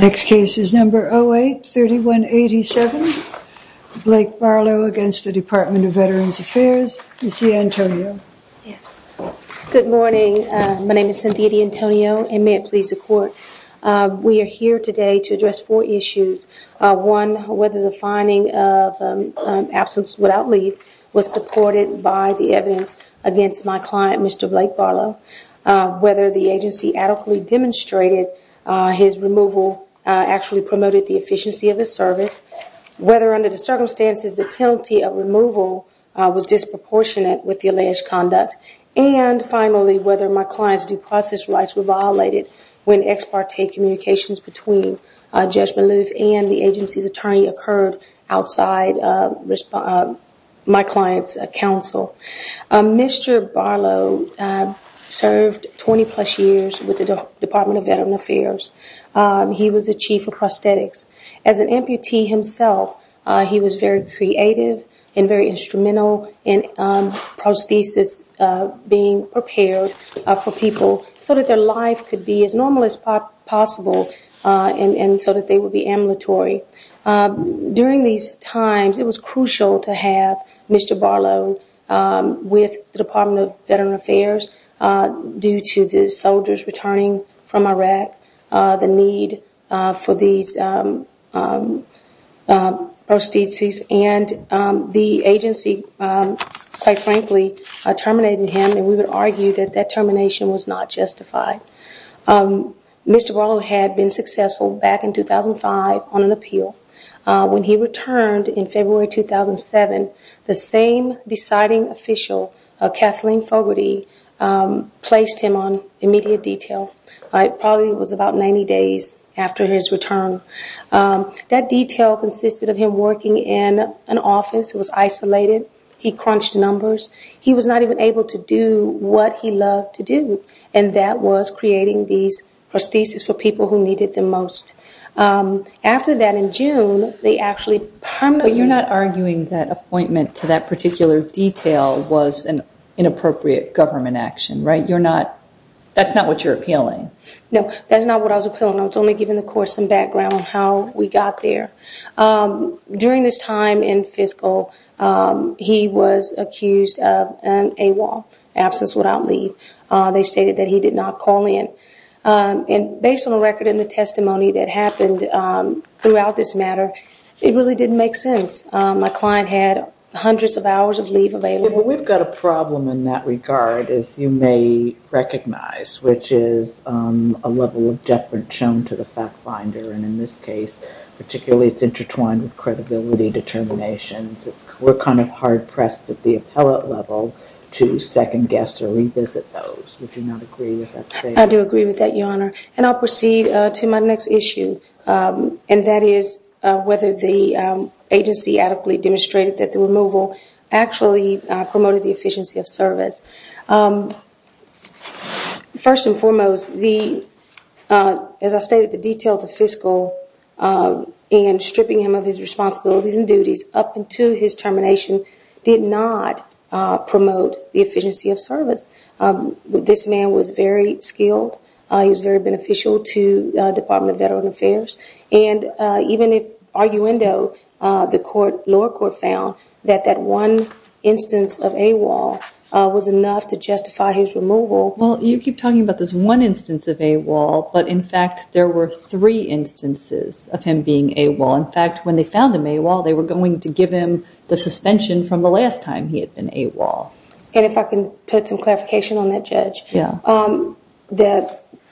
Next case is number 08-3187, Blake Barlow against the Department of Veterans Affairs, Ms. DeAntonio. Good morning, my name is Cynthia DeAntonio and may it please the court. We are here today to address four issues. One, whether the finding of absence without leave was supported by the evidence against my client, Mr. Blake Barlow. Whether the agency adequately demonstrated his removal actually promoted the efficiency of his service. Whether under the circumstances the penalty of removal was disproportionate with the alleged conduct. And finally, whether my client's due process rights were violated when ex parte communications between Judge Maloof and the agency's attorney occurred outside my client's counsel. Mr. Barlow served 20 plus years with the Department of Veterans Affairs. He was the chief of prosthetics. As an amputee himself, he was very creative and very instrumental in prosthesis being prepared for people so that their life could be as normal as possible and so that they would be ambulatory. During these times, it was crucial to have Mr. Barlow with the Department of Veterans Affairs due to the soldiers returning from Iraq, the need for these prosthesis and the agency, quite frankly, terminated him and we would argue that that termination was not justified. Mr. Barlow had been successful back in 2005 on an appeal. When he returned in February 2007, the same deciding official, Kathleen Fogarty, placed him on immediate detail. It probably was about 90 days after his return. That detail consisted of him working in an office. It was isolated. He crunched numbers. He was not even able to do what he loved to do and that was creating these prosthesis for people who needed them most. After that, in June, they actually permanently... But you're not arguing that appointment to that particular detail was an inappropriate government action, right? That's not what you're appealing. No, that's not what I was appealing. I was only giving the court some background on how we got there. During this time in fiscal, he was accused of an AWOL, absence without leave. They stated that he did not call in. Based on the record and the testimony that happened throughout this matter, it really didn't make sense. My client had hundreds of hours of leave available. We've got a problem in that regard, as you may recognize, which is a level of deference shown to the fact finder. In this case, particularly, it's intertwined with credibility determinations. We're kind of hard-pressed at the appellate level to second-guess or revisit those. Would you not agree with that statement? I do agree with that, Your Honor. I'll proceed to my next issue, and that is whether the agency adequately demonstrated that the removal actually promoted the efficiency of service. First and foremost, as I stated, the detail to fiscal in stripping him of his responsibilities and duties up until his termination did not promote the efficiency of service. This man was very skilled. He was very beneficial to the Department of Veterans Affairs. And even if arguendo, the lower court found that that one instance of AWOL was enough to justify his removal. Well, you keep talking about this one instance of AWOL, but in fact there were three instances of him being AWOL. In fact, when they found him AWOL, they were going to give him the suspension from the last time he had been AWOL. And if I can put some clarification on that, Judge,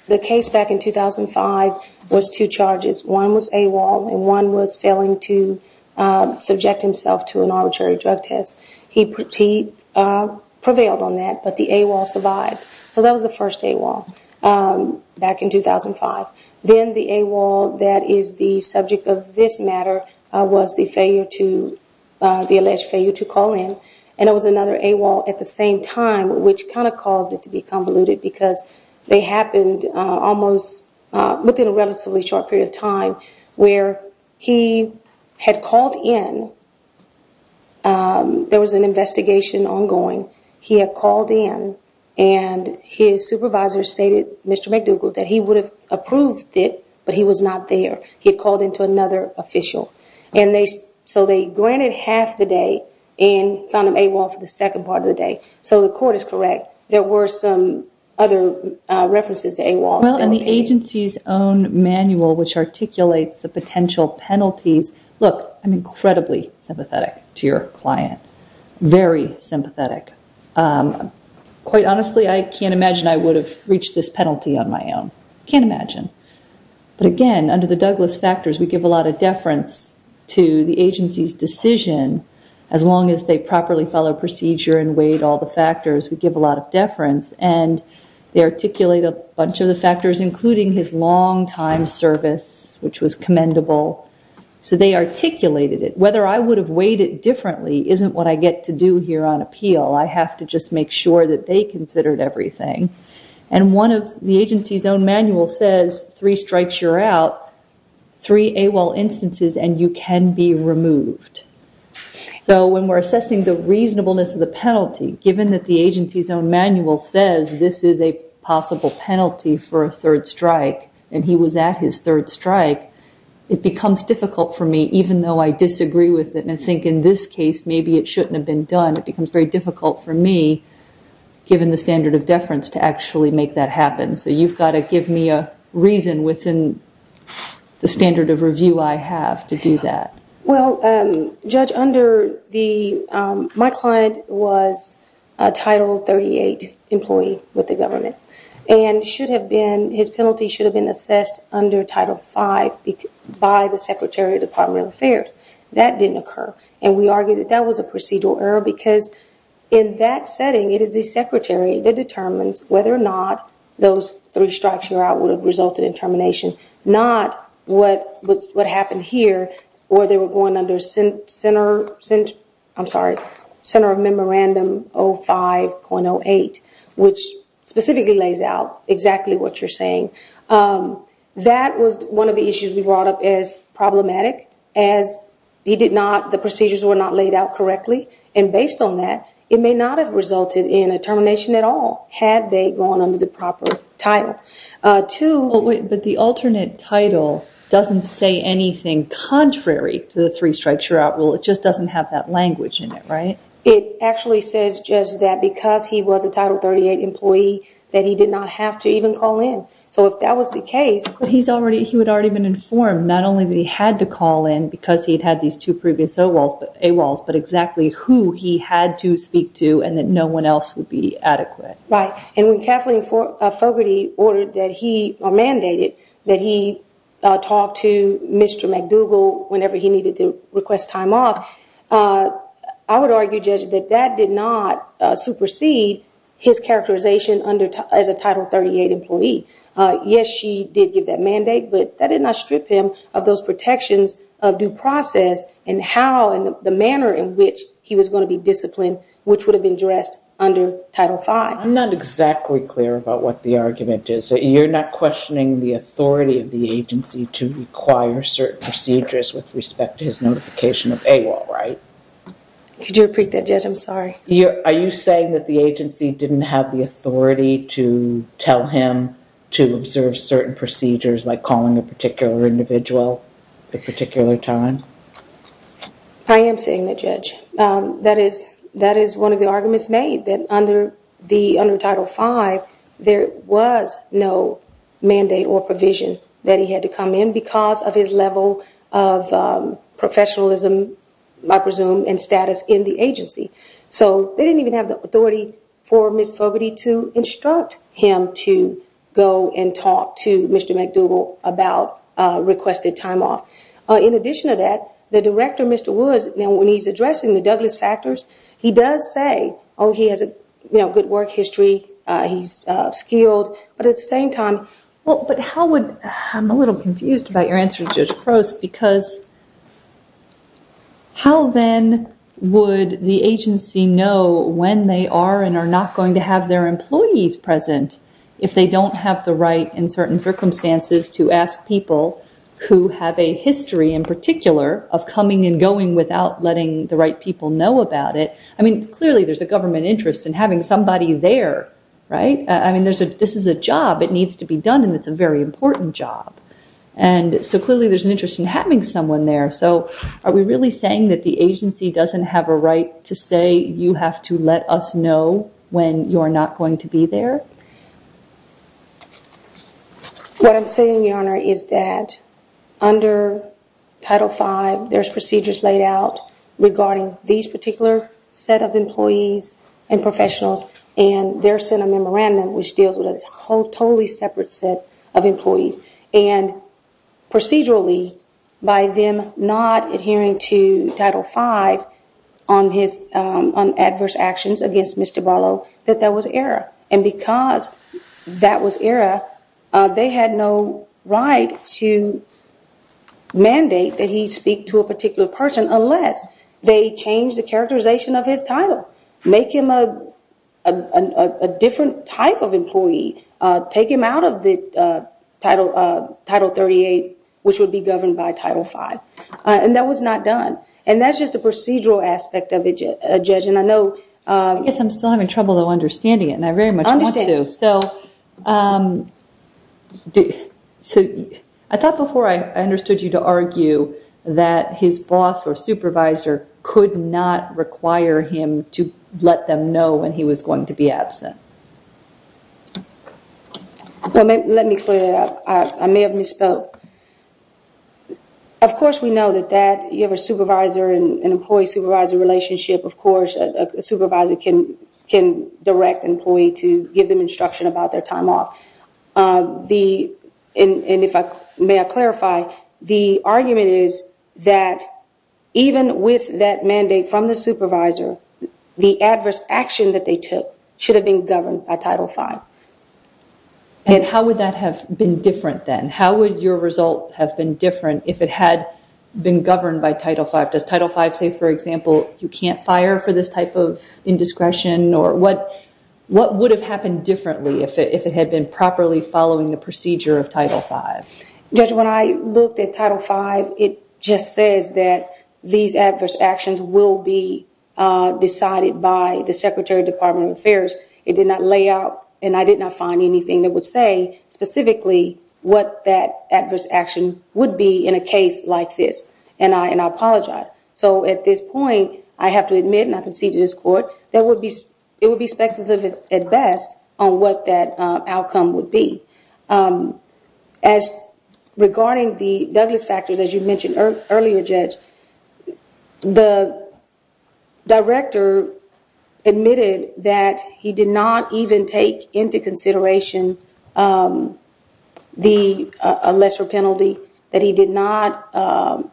the case back in 2005 was two charges. One was AWOL, and one was failing to subject himself to an arbitrary drug test. He prevailed on that, but the AWOL survived. So that was the first AWOL back in 2005. Then the AWOL that is the subject of this matter was the alleged failure to call in. And it was another AWOL at the same time, which kind of caused it to be convoluted, because they happened almost within a relatively short period of time where he had called in. There was an investigation ongoing. He had called in, and his supervisor stated, Mr. McDougal, that he would have approved it, but he was not there. He had called in to another official. So they granted half the day and found him AWOL for the second part of the day. So the court is correct. There were some other references to AWOL. Well, in the agency's own manual, which articulates the potential penalties, look, I'm incredibly sympathetic to your client, very sympathetic. Quite honestly, I can't imagine I would have reached this penalty on my own. I can't imagine. But again, under the Douglas factors, we give a lot of deference to the agency's decision. As long as they properly follow procedure and weighed all the factors, we give a lot of deference. And they articulate a bunch of the factors, including his long-time service, which was commendable. So they articulated it. Whether I would have weighed it differently isn't what I get to do here on appeal. I have to just make sure that they considered everything. And one of the agency's own manual says, three strikes you're out, three AWOL instances, and you can be removed. So when we're assessing the reasonableness of the penalty, given that the agency's own manual says this is a possible penalty for a third strike, and he was at his third strike, it becomes difficult for me, even though I disagree with it and I think in this case maybe it shouldn't have been done. It becomes very difficult for me, given the standard of deference, to actually make that happen. So you've got to give me a reason within the standard of review I have to do that. Well, Judge, my client was a Title 38 employee with the government. And his penalty should have been assessed under Title V by the Secretary of the Department of Affairs. That didn't occur. And we argue that that was a procedural error because in that setting, it is the Secretary that determines whether or not those three strikes you're out would have resulted in termination, not what happened here where they were going under Center of Memorandum 05.08, which specifically lays out exactly what you're saying. That was one of the issues we brought up as problematic, as the procedures were not laid out correctly. And based on that, it may not have resulted in a termination at all had they gone under the proper title. But the alternate title doesn't say anything contrary to the three strikes you're out rule. It just doesn't have that language in it, right? It actually says, Judge, that because he was a Title 38 employee, that he did not have to even call in. So if that was the case... But he would have already been informed not only that he had to call in because he had these two previous AWOLs, but exactly who he had to speak to and that no one else would be adequate. Right. And when Kathleen Fogerty ordered that he or mandated that he talk to Mr. McDougal whenever he needed to request time off, I would argue, Judge, that that did not supersede his characterization as a Title 38 employee. Yes, she did give that mandate, but that did not strip him of those protections of due process and how and the manner in which he was going to be disciplined, which would have been addressed under Title V. I'm not exactly clear about what the argument is. You're not questioning the authority of the agency to require certain procedures with respect to his notification of AWOL, right? Could you repeat that, Judge? I'm sorry. Are you saying that the agency didn't have the authority to tell him to observe certain procedures, like calling a particular individual at a particular time? I am saying that, Judge. That is one of the arguments made, that under Title V, there was no mandate or provision that he had to come in because of his level of professionalism, I presume, and status in the agency. So they didn't even have the authority for Ms. Fogerty to instruct him to go and talk to Mr. McDougal about requested time off. In addition to that, the director, Mr. Woods, when he's addressing the Douglas factors, he does say, oh, he has a good work history, he's skilled, but at the same time... But how would... I'm a little confused about your answer, Judge Crose, because how then would the agency know when they are and are not going to have their employees present if they don't have the right in certain circumstances to ask people who have a history in particular of coming and going without letting the right people know about it? I mean, clearly there's a government interest in having somebody there, right? I mean, this is a job. It needs to be done, and it's a very important job. And so clearly there's an interest in having someone there. So are we really saying that the agency doesn't have a right to say you have to let us know when you're not going to be there? What I'm saying, Your Honor, is that under Title V, there's procedures laid out regarding these particular set of employees and professionals and their set of memorandum which deals with a totally separate set of employees. And procedurally, by them not adhering to Title V on adverse actions against Mr. Barlow, that that was error. And because that was error, they had no right to mandate that he speak to a particular person unless they change the characterization of his title, make him a different type of employee, take him out of the Title 38, which would be governed by Title V. And that was not done. And that's just a procedural aspect of it, Judge. And I know... I guess I'm still having trouble, though, understanding it, and I very much want to. I understand. So I thought before I understood you to argue that his boss or supervisor could not require him to let them know when he was going to be absent. Let me clear that up. I may have misspoke. Of course, we know that you have a supervisor and employee-supervisor relationship. Of course, a supervisor can direct an employee to give them instruction about their time off. And if I may clarify, the argument is that even with that mandate from the supervisor, the adverse action that they took should have been governed by Title V. And how would that have been different then? How would your result have been different if it had been governed by Title V? Does Title V say, for example, you can't fire for this type of indiscretion? Or what would have happened differently if it had been properly following the procedure of Title V? Judge, when I looked at Title V, it just says that these adverse actions will be decided by the Secretary of Department of Affairs. It did not lay out, and I did not find anything that would say specifically what that adverse action would be in a case like this, and I apologize. So at this point, I have to admit, and I concede to this Court, it would be speculative at best on what that outcome would be. As regarding the Douglas factors, as you mentioned earlier, Judge, the director admitted that he did not even take into consideration a lesser penalty, that he did not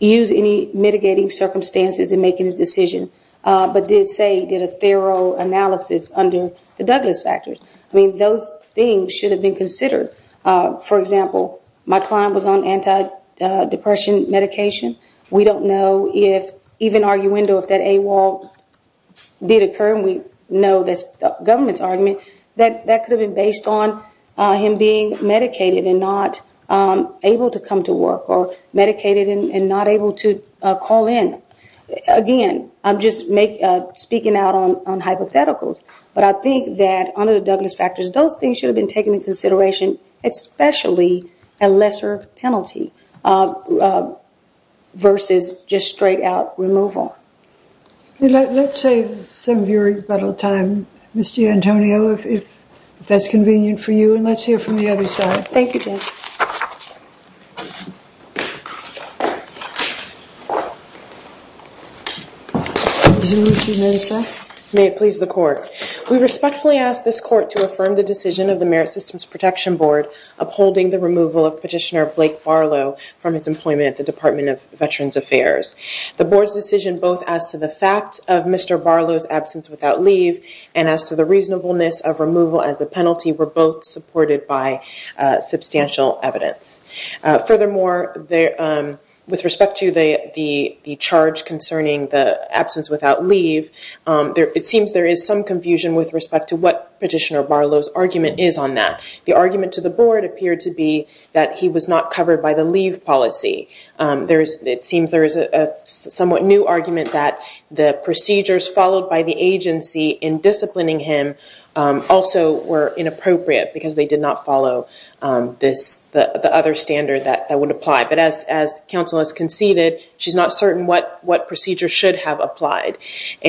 use any mitigating circumstances in making his decision, but did say he did a thorough analysis under the Douglas factors. I mean, those things should have been considered. For example, my client was on antidepressant medication. We don't know if even arguendo, if that AWOL did occur, and we know that's the government's argument, that that could have been based on him being medicated and not able to come to work, or medicated and not able to call in. Again, I'm just speaking out on hypotheticals, but I think that under the Douglas factors, those things should have been taken into consideration, especially a lesser penalty versus just straight-out removal. Let's save some of your time, Ms. Gianantonio, if that's convenient for you, and let's hear from the other side. Thank you, Judge. May it please the Court. We respectfully ask this Court to affirm the decision of the Merit Systems Protection Board upholding the removal of Petitioner Blake Barlow from his employment at the Department of Veterans Affairs. The Board's decision both as to the fact of Mr. Barlow's absence without leave and as to the reasonableness of removal as a penalty were both supported by substantial evidence. Furthermore, with respect to the charge concerning the absence without leave, it seems there is some confusion with respect to what Petitioner Barlow's argument is on that. The argument to the Board appeared to be that he was not covered by the leave policy. It seems there is a somewhat new argument that the procedures followed by the agency in disciplining him also were inappropriate because they did not follow the other standard that would apply. But as counsel has conceded, she's not certain what procedure should have applied.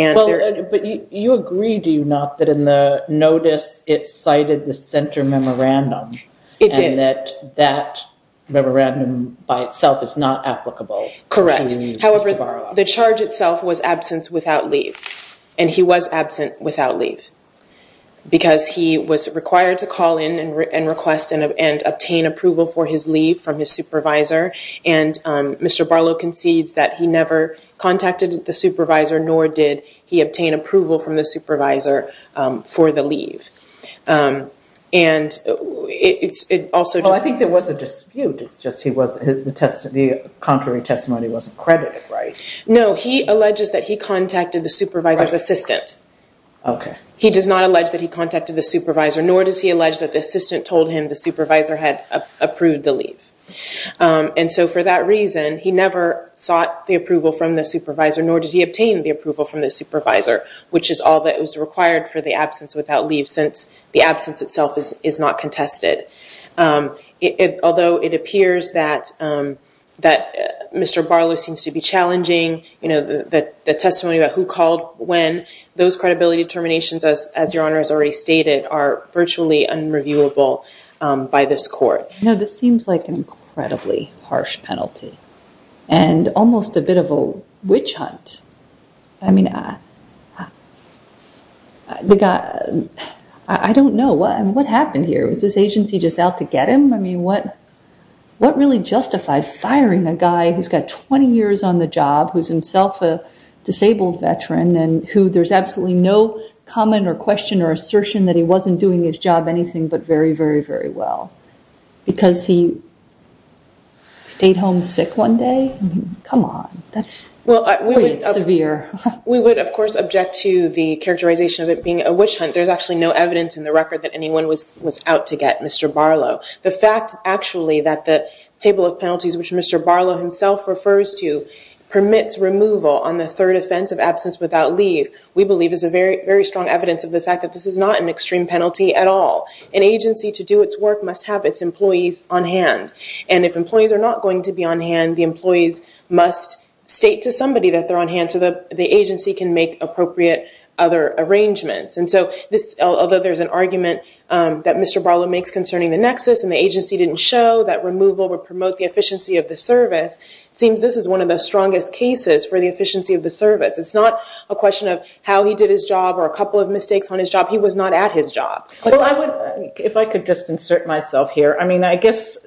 But you agree, do you not, that in the notice it cited the center memorandum? It did. You're saying that that memorandum by itself is not applicable? Correct. However, the charge itself was absence without leave, and he was absent without leave because he was required to call in and request and obtain approval for his leave from his supervisor. And Mr. Barlow concedes that he never contacted the supervisor, nor did he obtain approval from the supervisor for the leave. Well, I think there was a dispute. It's just the contrary testimony wasn't credited, right? No, he alleges that he contacted the supervisor's assistant. He does not allege that he contacted the supervisor, nor does he allege that the assistant told him the supervisor had approved the leave. And so for that reason, he never sought the approval from the supervisor, nor did he obtain the approval from the supervisor, which is all that was required for the absence without leave since the absence itself is not contested. Although it appears that Mr. Barlow seems to be challenging the testimony about who called when, those credibility determinations, as Your Honor has already stated, are virtually unreviewable by this court. No, this seems like an incredibly harsh penalty and almost a bit of a witch hunt. I mean, I don't know. What happened here? Was this agency just out to get him? I mean, what really justified firing a guy who's got 20 years on the job, who's himself a disabled veteran and who there's absolutely no comment or question or assertion that he wasn't doing his job anything but very, very, very well? Because he stayed home sick one day? Come on. That's quite severe. We would, of course, object to the characterization of it being a witch hunt. There's actually no evidence in the record that anyone was out to get Mr. Barlow. The fact, actually, that the table of penalties, which Mr. Barlow himself refers to, permits removal on the third offense of absence without leave, we believe is a very strong evidence of the fact that this is not an extreme penalty at all. An agency to do its work must have its employees on hand. And if employees are not going to be on hand, the employees must state to somebody that they're on hand so the agency can make appropriate other arrangements. Although there's an argument that Mr. Barlow makes concerning the nexus and the agency didn't show that removal would promote the efficiency of the service, it seems this is one of the strongest cases for the efficiency of the service. It's not a question of how he did his job or a couple of mistakes on his job. He was not at his job. If I could just insert myself here, I mean, I guess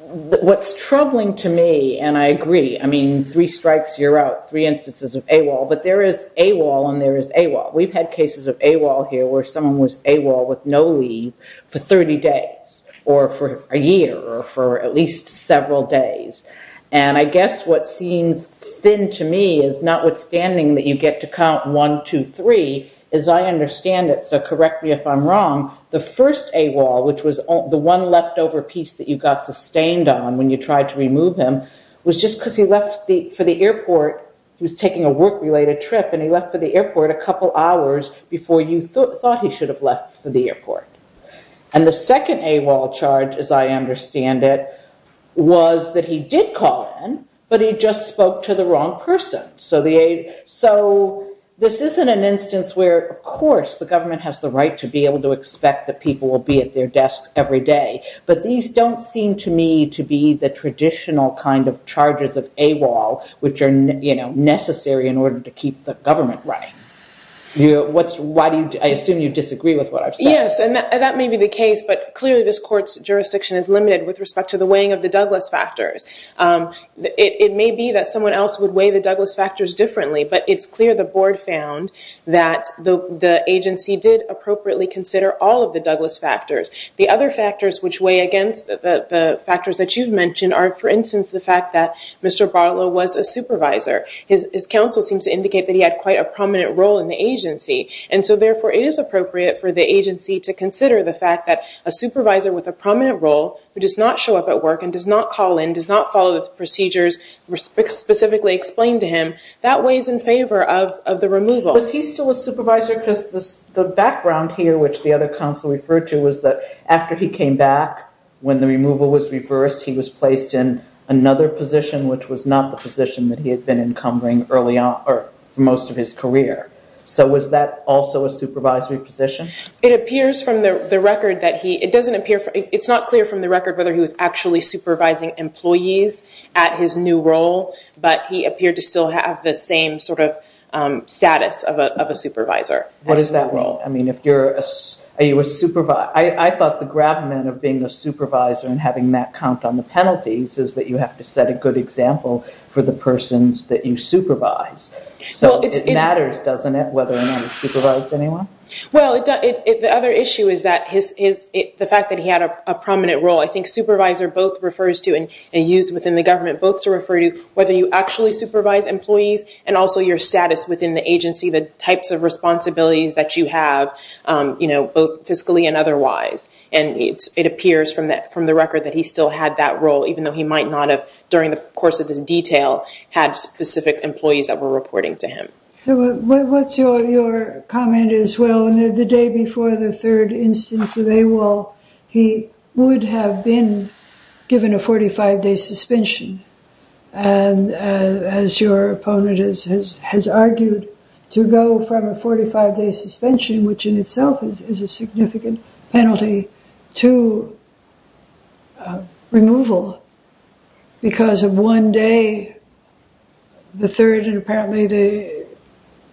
what's troubling to me, and I agree, I mean, three strikes, you're out, three instances of AWOL, but there is AWOL and there is AWOL. We've had cases of AWOL here where someone was AWOL with no leave for 30 days or for a year or for at least several days. And I guess what seems thin to me is notwithstanding that you get to count one, two, three, as I understand it, so correct me if I'm wrong, the first AWOL, which was the one leftover piece that you got sustained on when you tried to remove him, was just because he left for the airport, he was taking a work-related trip, and he left for the airport a couple hours before you thought he should have left for the airport. And the second AWOL charge, as I understand it, was that he did call in, but he just spoke to the wrong person. So this isn't an instance where, of course, the government has the right to be able to expect that people will be at their desk every day, but these don't seem to me to be the traditional kind of charges of AWOL which are necessary in order to keep the government right. I assume you disagree with what I've said. Yes, and that may be the case, but clearly this court's jurisdiction is limited with respect to the weighing of the Douglas factors. It may be that someone else would weigh the Douglas factors differently, but it's clear the board found that the agency did appropriately consider all of the Douglas factors. The other factors which weigh against the factors that you've mentioned are, for instance, the fact that Mr. Bartlow was a supervisor. His counsel seems to indicate that he had quite a prominent role in the agency, and so therefore it is appropriate for the agency to consider the fact that a supervisor with a prominent role who does not show up at work and does not call in, does not follow the procedures specifically explained to him, that weighs in favor of the removal. Was he still a supervisor because the background here, which the other counsel referred to, was that after he came back, when the removal was reversed, he was placed in another position which was not the position that he had been encumbering for most of his career. So was that also a supervisory position? It's not clear from the record whether he was actually supervising employees at his new role, but he appeared to still have the same sort of status of a supervisor. What is that role? I thought the gravamen of being a supervisor and having that count on the penalties is that you have to set a good example for the persons that you supervise. So it matters, doesn't it, whether or not he supervised anyone? Well, the other issue is the fact that he had a prominent role. I think supervisor both refers to, and used within the government, both to refer to whether you actually supervise employees and also your status within the agency, the types of responsibilities that you have, both fiscally and otherwise. And it appears from the record that he still had that role, even though he might not have, during the course of his detail, had specific employees that were reporting to him. So what's your comment is, well, the day before the third instance of AWOL, he would have been given a 45-day suspension, and as your opponent has argued, to go from a 45-day suspension, which in itself is a significant penalty, to removal, because of one day, the third, and apparently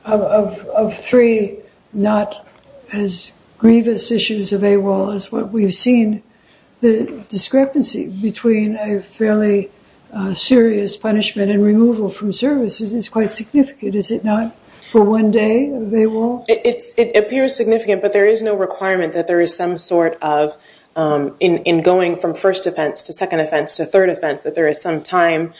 of three, not as grievous issues of AWOL as what we've seen. The discrepancy between a fairly serious punishment and removal from services is quite significant, is it not, for one day of AWOL? It appears significant, but there is no requirement that there is some sort of, in going from first offense to second offense to third offense, that there is some time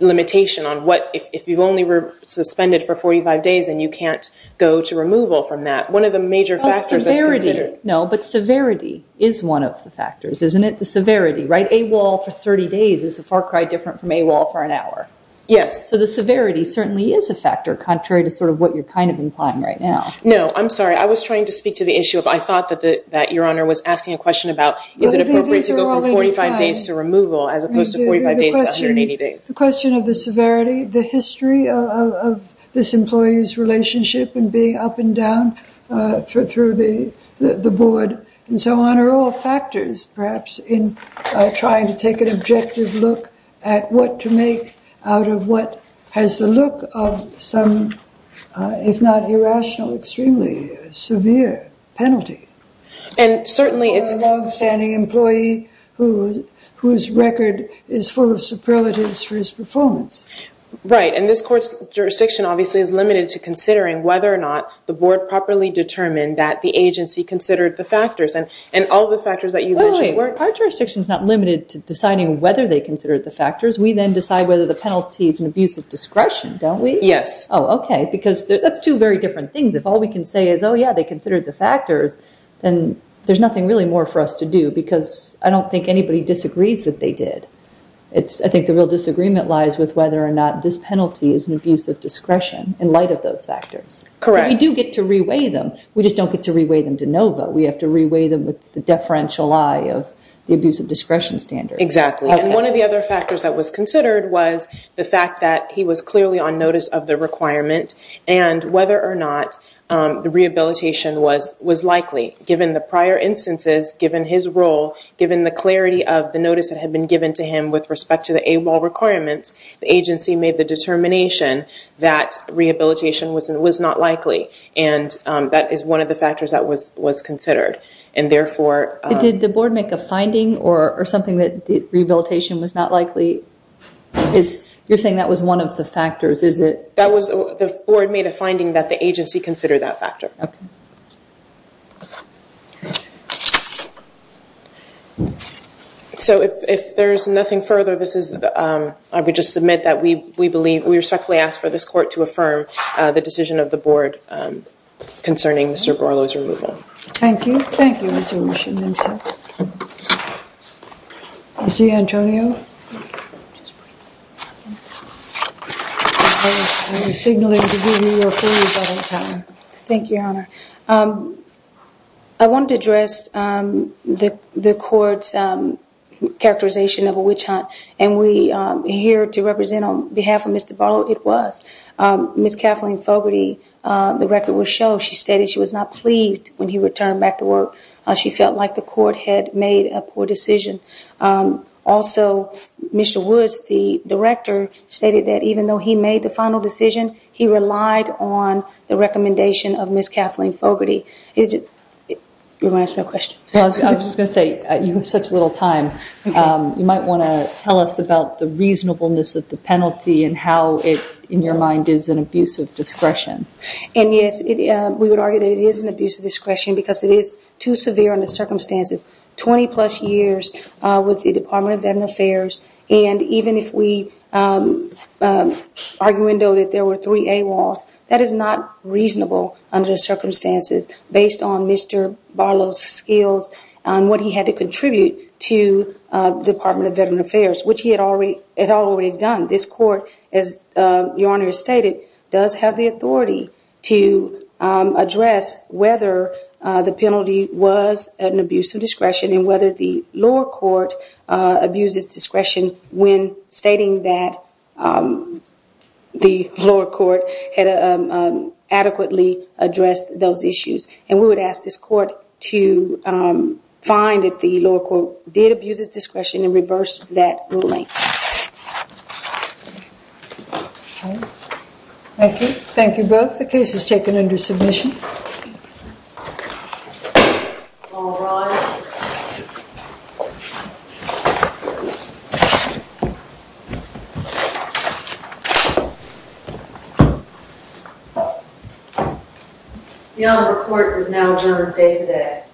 limitation on what, if you've only suspended for 45 days and you can't go to removal from that. One of the major factors that's considered. No, but severity is one of the factors, isn't it? The severity, right? AWOL for 30 days is a far cry different from AWOL for an hour. Yes. So the severity certainly is a factor, contrary to sort of what you're kind of implying right now. No, I'm sorry. I was trying to speak to the issue of I thought that Your Honor was asking a question about is it appropriate to go from 45 days to removal as opposed to 45 days to 180 days. The question of the severity, the history of this employee's relationship and being up and down through the board and so on are all factors, perhaps, in trying to take an objective look at what to make out of what has the look of some, if not irrational, extremely severe penalty for a longstanding employee whose record is full of superlatives for his performance. Right. And this court's jurisdiction, obviously, is limited to considering whether or not the board properly determined that the agency considered the factors. And all the factors that you mentioned weren't. Our jurisdiction is not limited to deciding whether they considered the factors. We then decide whether the penalty is an abuse of discretion, don't we? Yes. Oh, okay, because that's two very different things. If all we can say is, oh, yeah, they considered the factors, then there's nothing really more for us to do because I don't think anybody disagrees that they did. I think the real disagreement lies with whether or not this penalty is an abuse of discretion in light of those factors. Correct. So we do get to reweigh them. We just don't get to reweigh them de novo. We have to reweigh them with the deferential eye of the abuse of discretion standard. Exactly. And one of the other factors that was considered was the fact that he was clearly on notice of the requirement and whether or not the rehabilitation was likely. Given the prior instances, given his role, given the clarity of the notice that had been given to him with respect to the AWOL requirements, the agency made the determination that rehabilitation was not likely, and that is one of the factors that was considered. Did the board make a finding or something that rehabilitation was not likely? You're saying that was one of the factors. That was the board made a finding that the agency considered that factor. Okay. So if there's nothing further, I would just submit that we respectfully ask for this court to affirm the decision of the board concerning Mr. Borlo's removal. Thank you. Thank you, Mr. Monson. Ms. D'Antonio? Thank you, Your Honor. I want to address the court's characterization of a witch hunt, and we're here to represent on behalf of Mr. Borlo. It was. Ms. Kathleen Fogarty, the record will show, she stated she was not pleased when he returned back to work. She felt like the court had made a poor decision. Also, Mr. Woods, the director, stated that even though he made the final decision, he relied on the recommendation of Ms. Kathleen Fogarty. You're going to ask me a question? I was just going to say, you have such little time. You might want to tell us about the reasonableness of the penalty And, yes, we would argue that it is an abuse of discretion because it is too severe under circumstances. Twenty-plus years with the Department of Veterans Affairs, and even if we argue that there were three AWOLs, that is not reasonable under circumstances based on Mr. Borlo's skills and what he had to contribute to the Department of Veterans Affairs, which he had already done. This court, as Your Honor has stated, does have the authority to address whether the penalty was an abuse of discretion and whether the lower court abused its discretion when stating that the lower court had adequately addressed those issues. And we would ask this court to find that the lower court did abuse its discretion and reverse that ruling. Thank you. Thank you both. The case is taken under submission. All rise. The Honorable Court is now adjourned day today.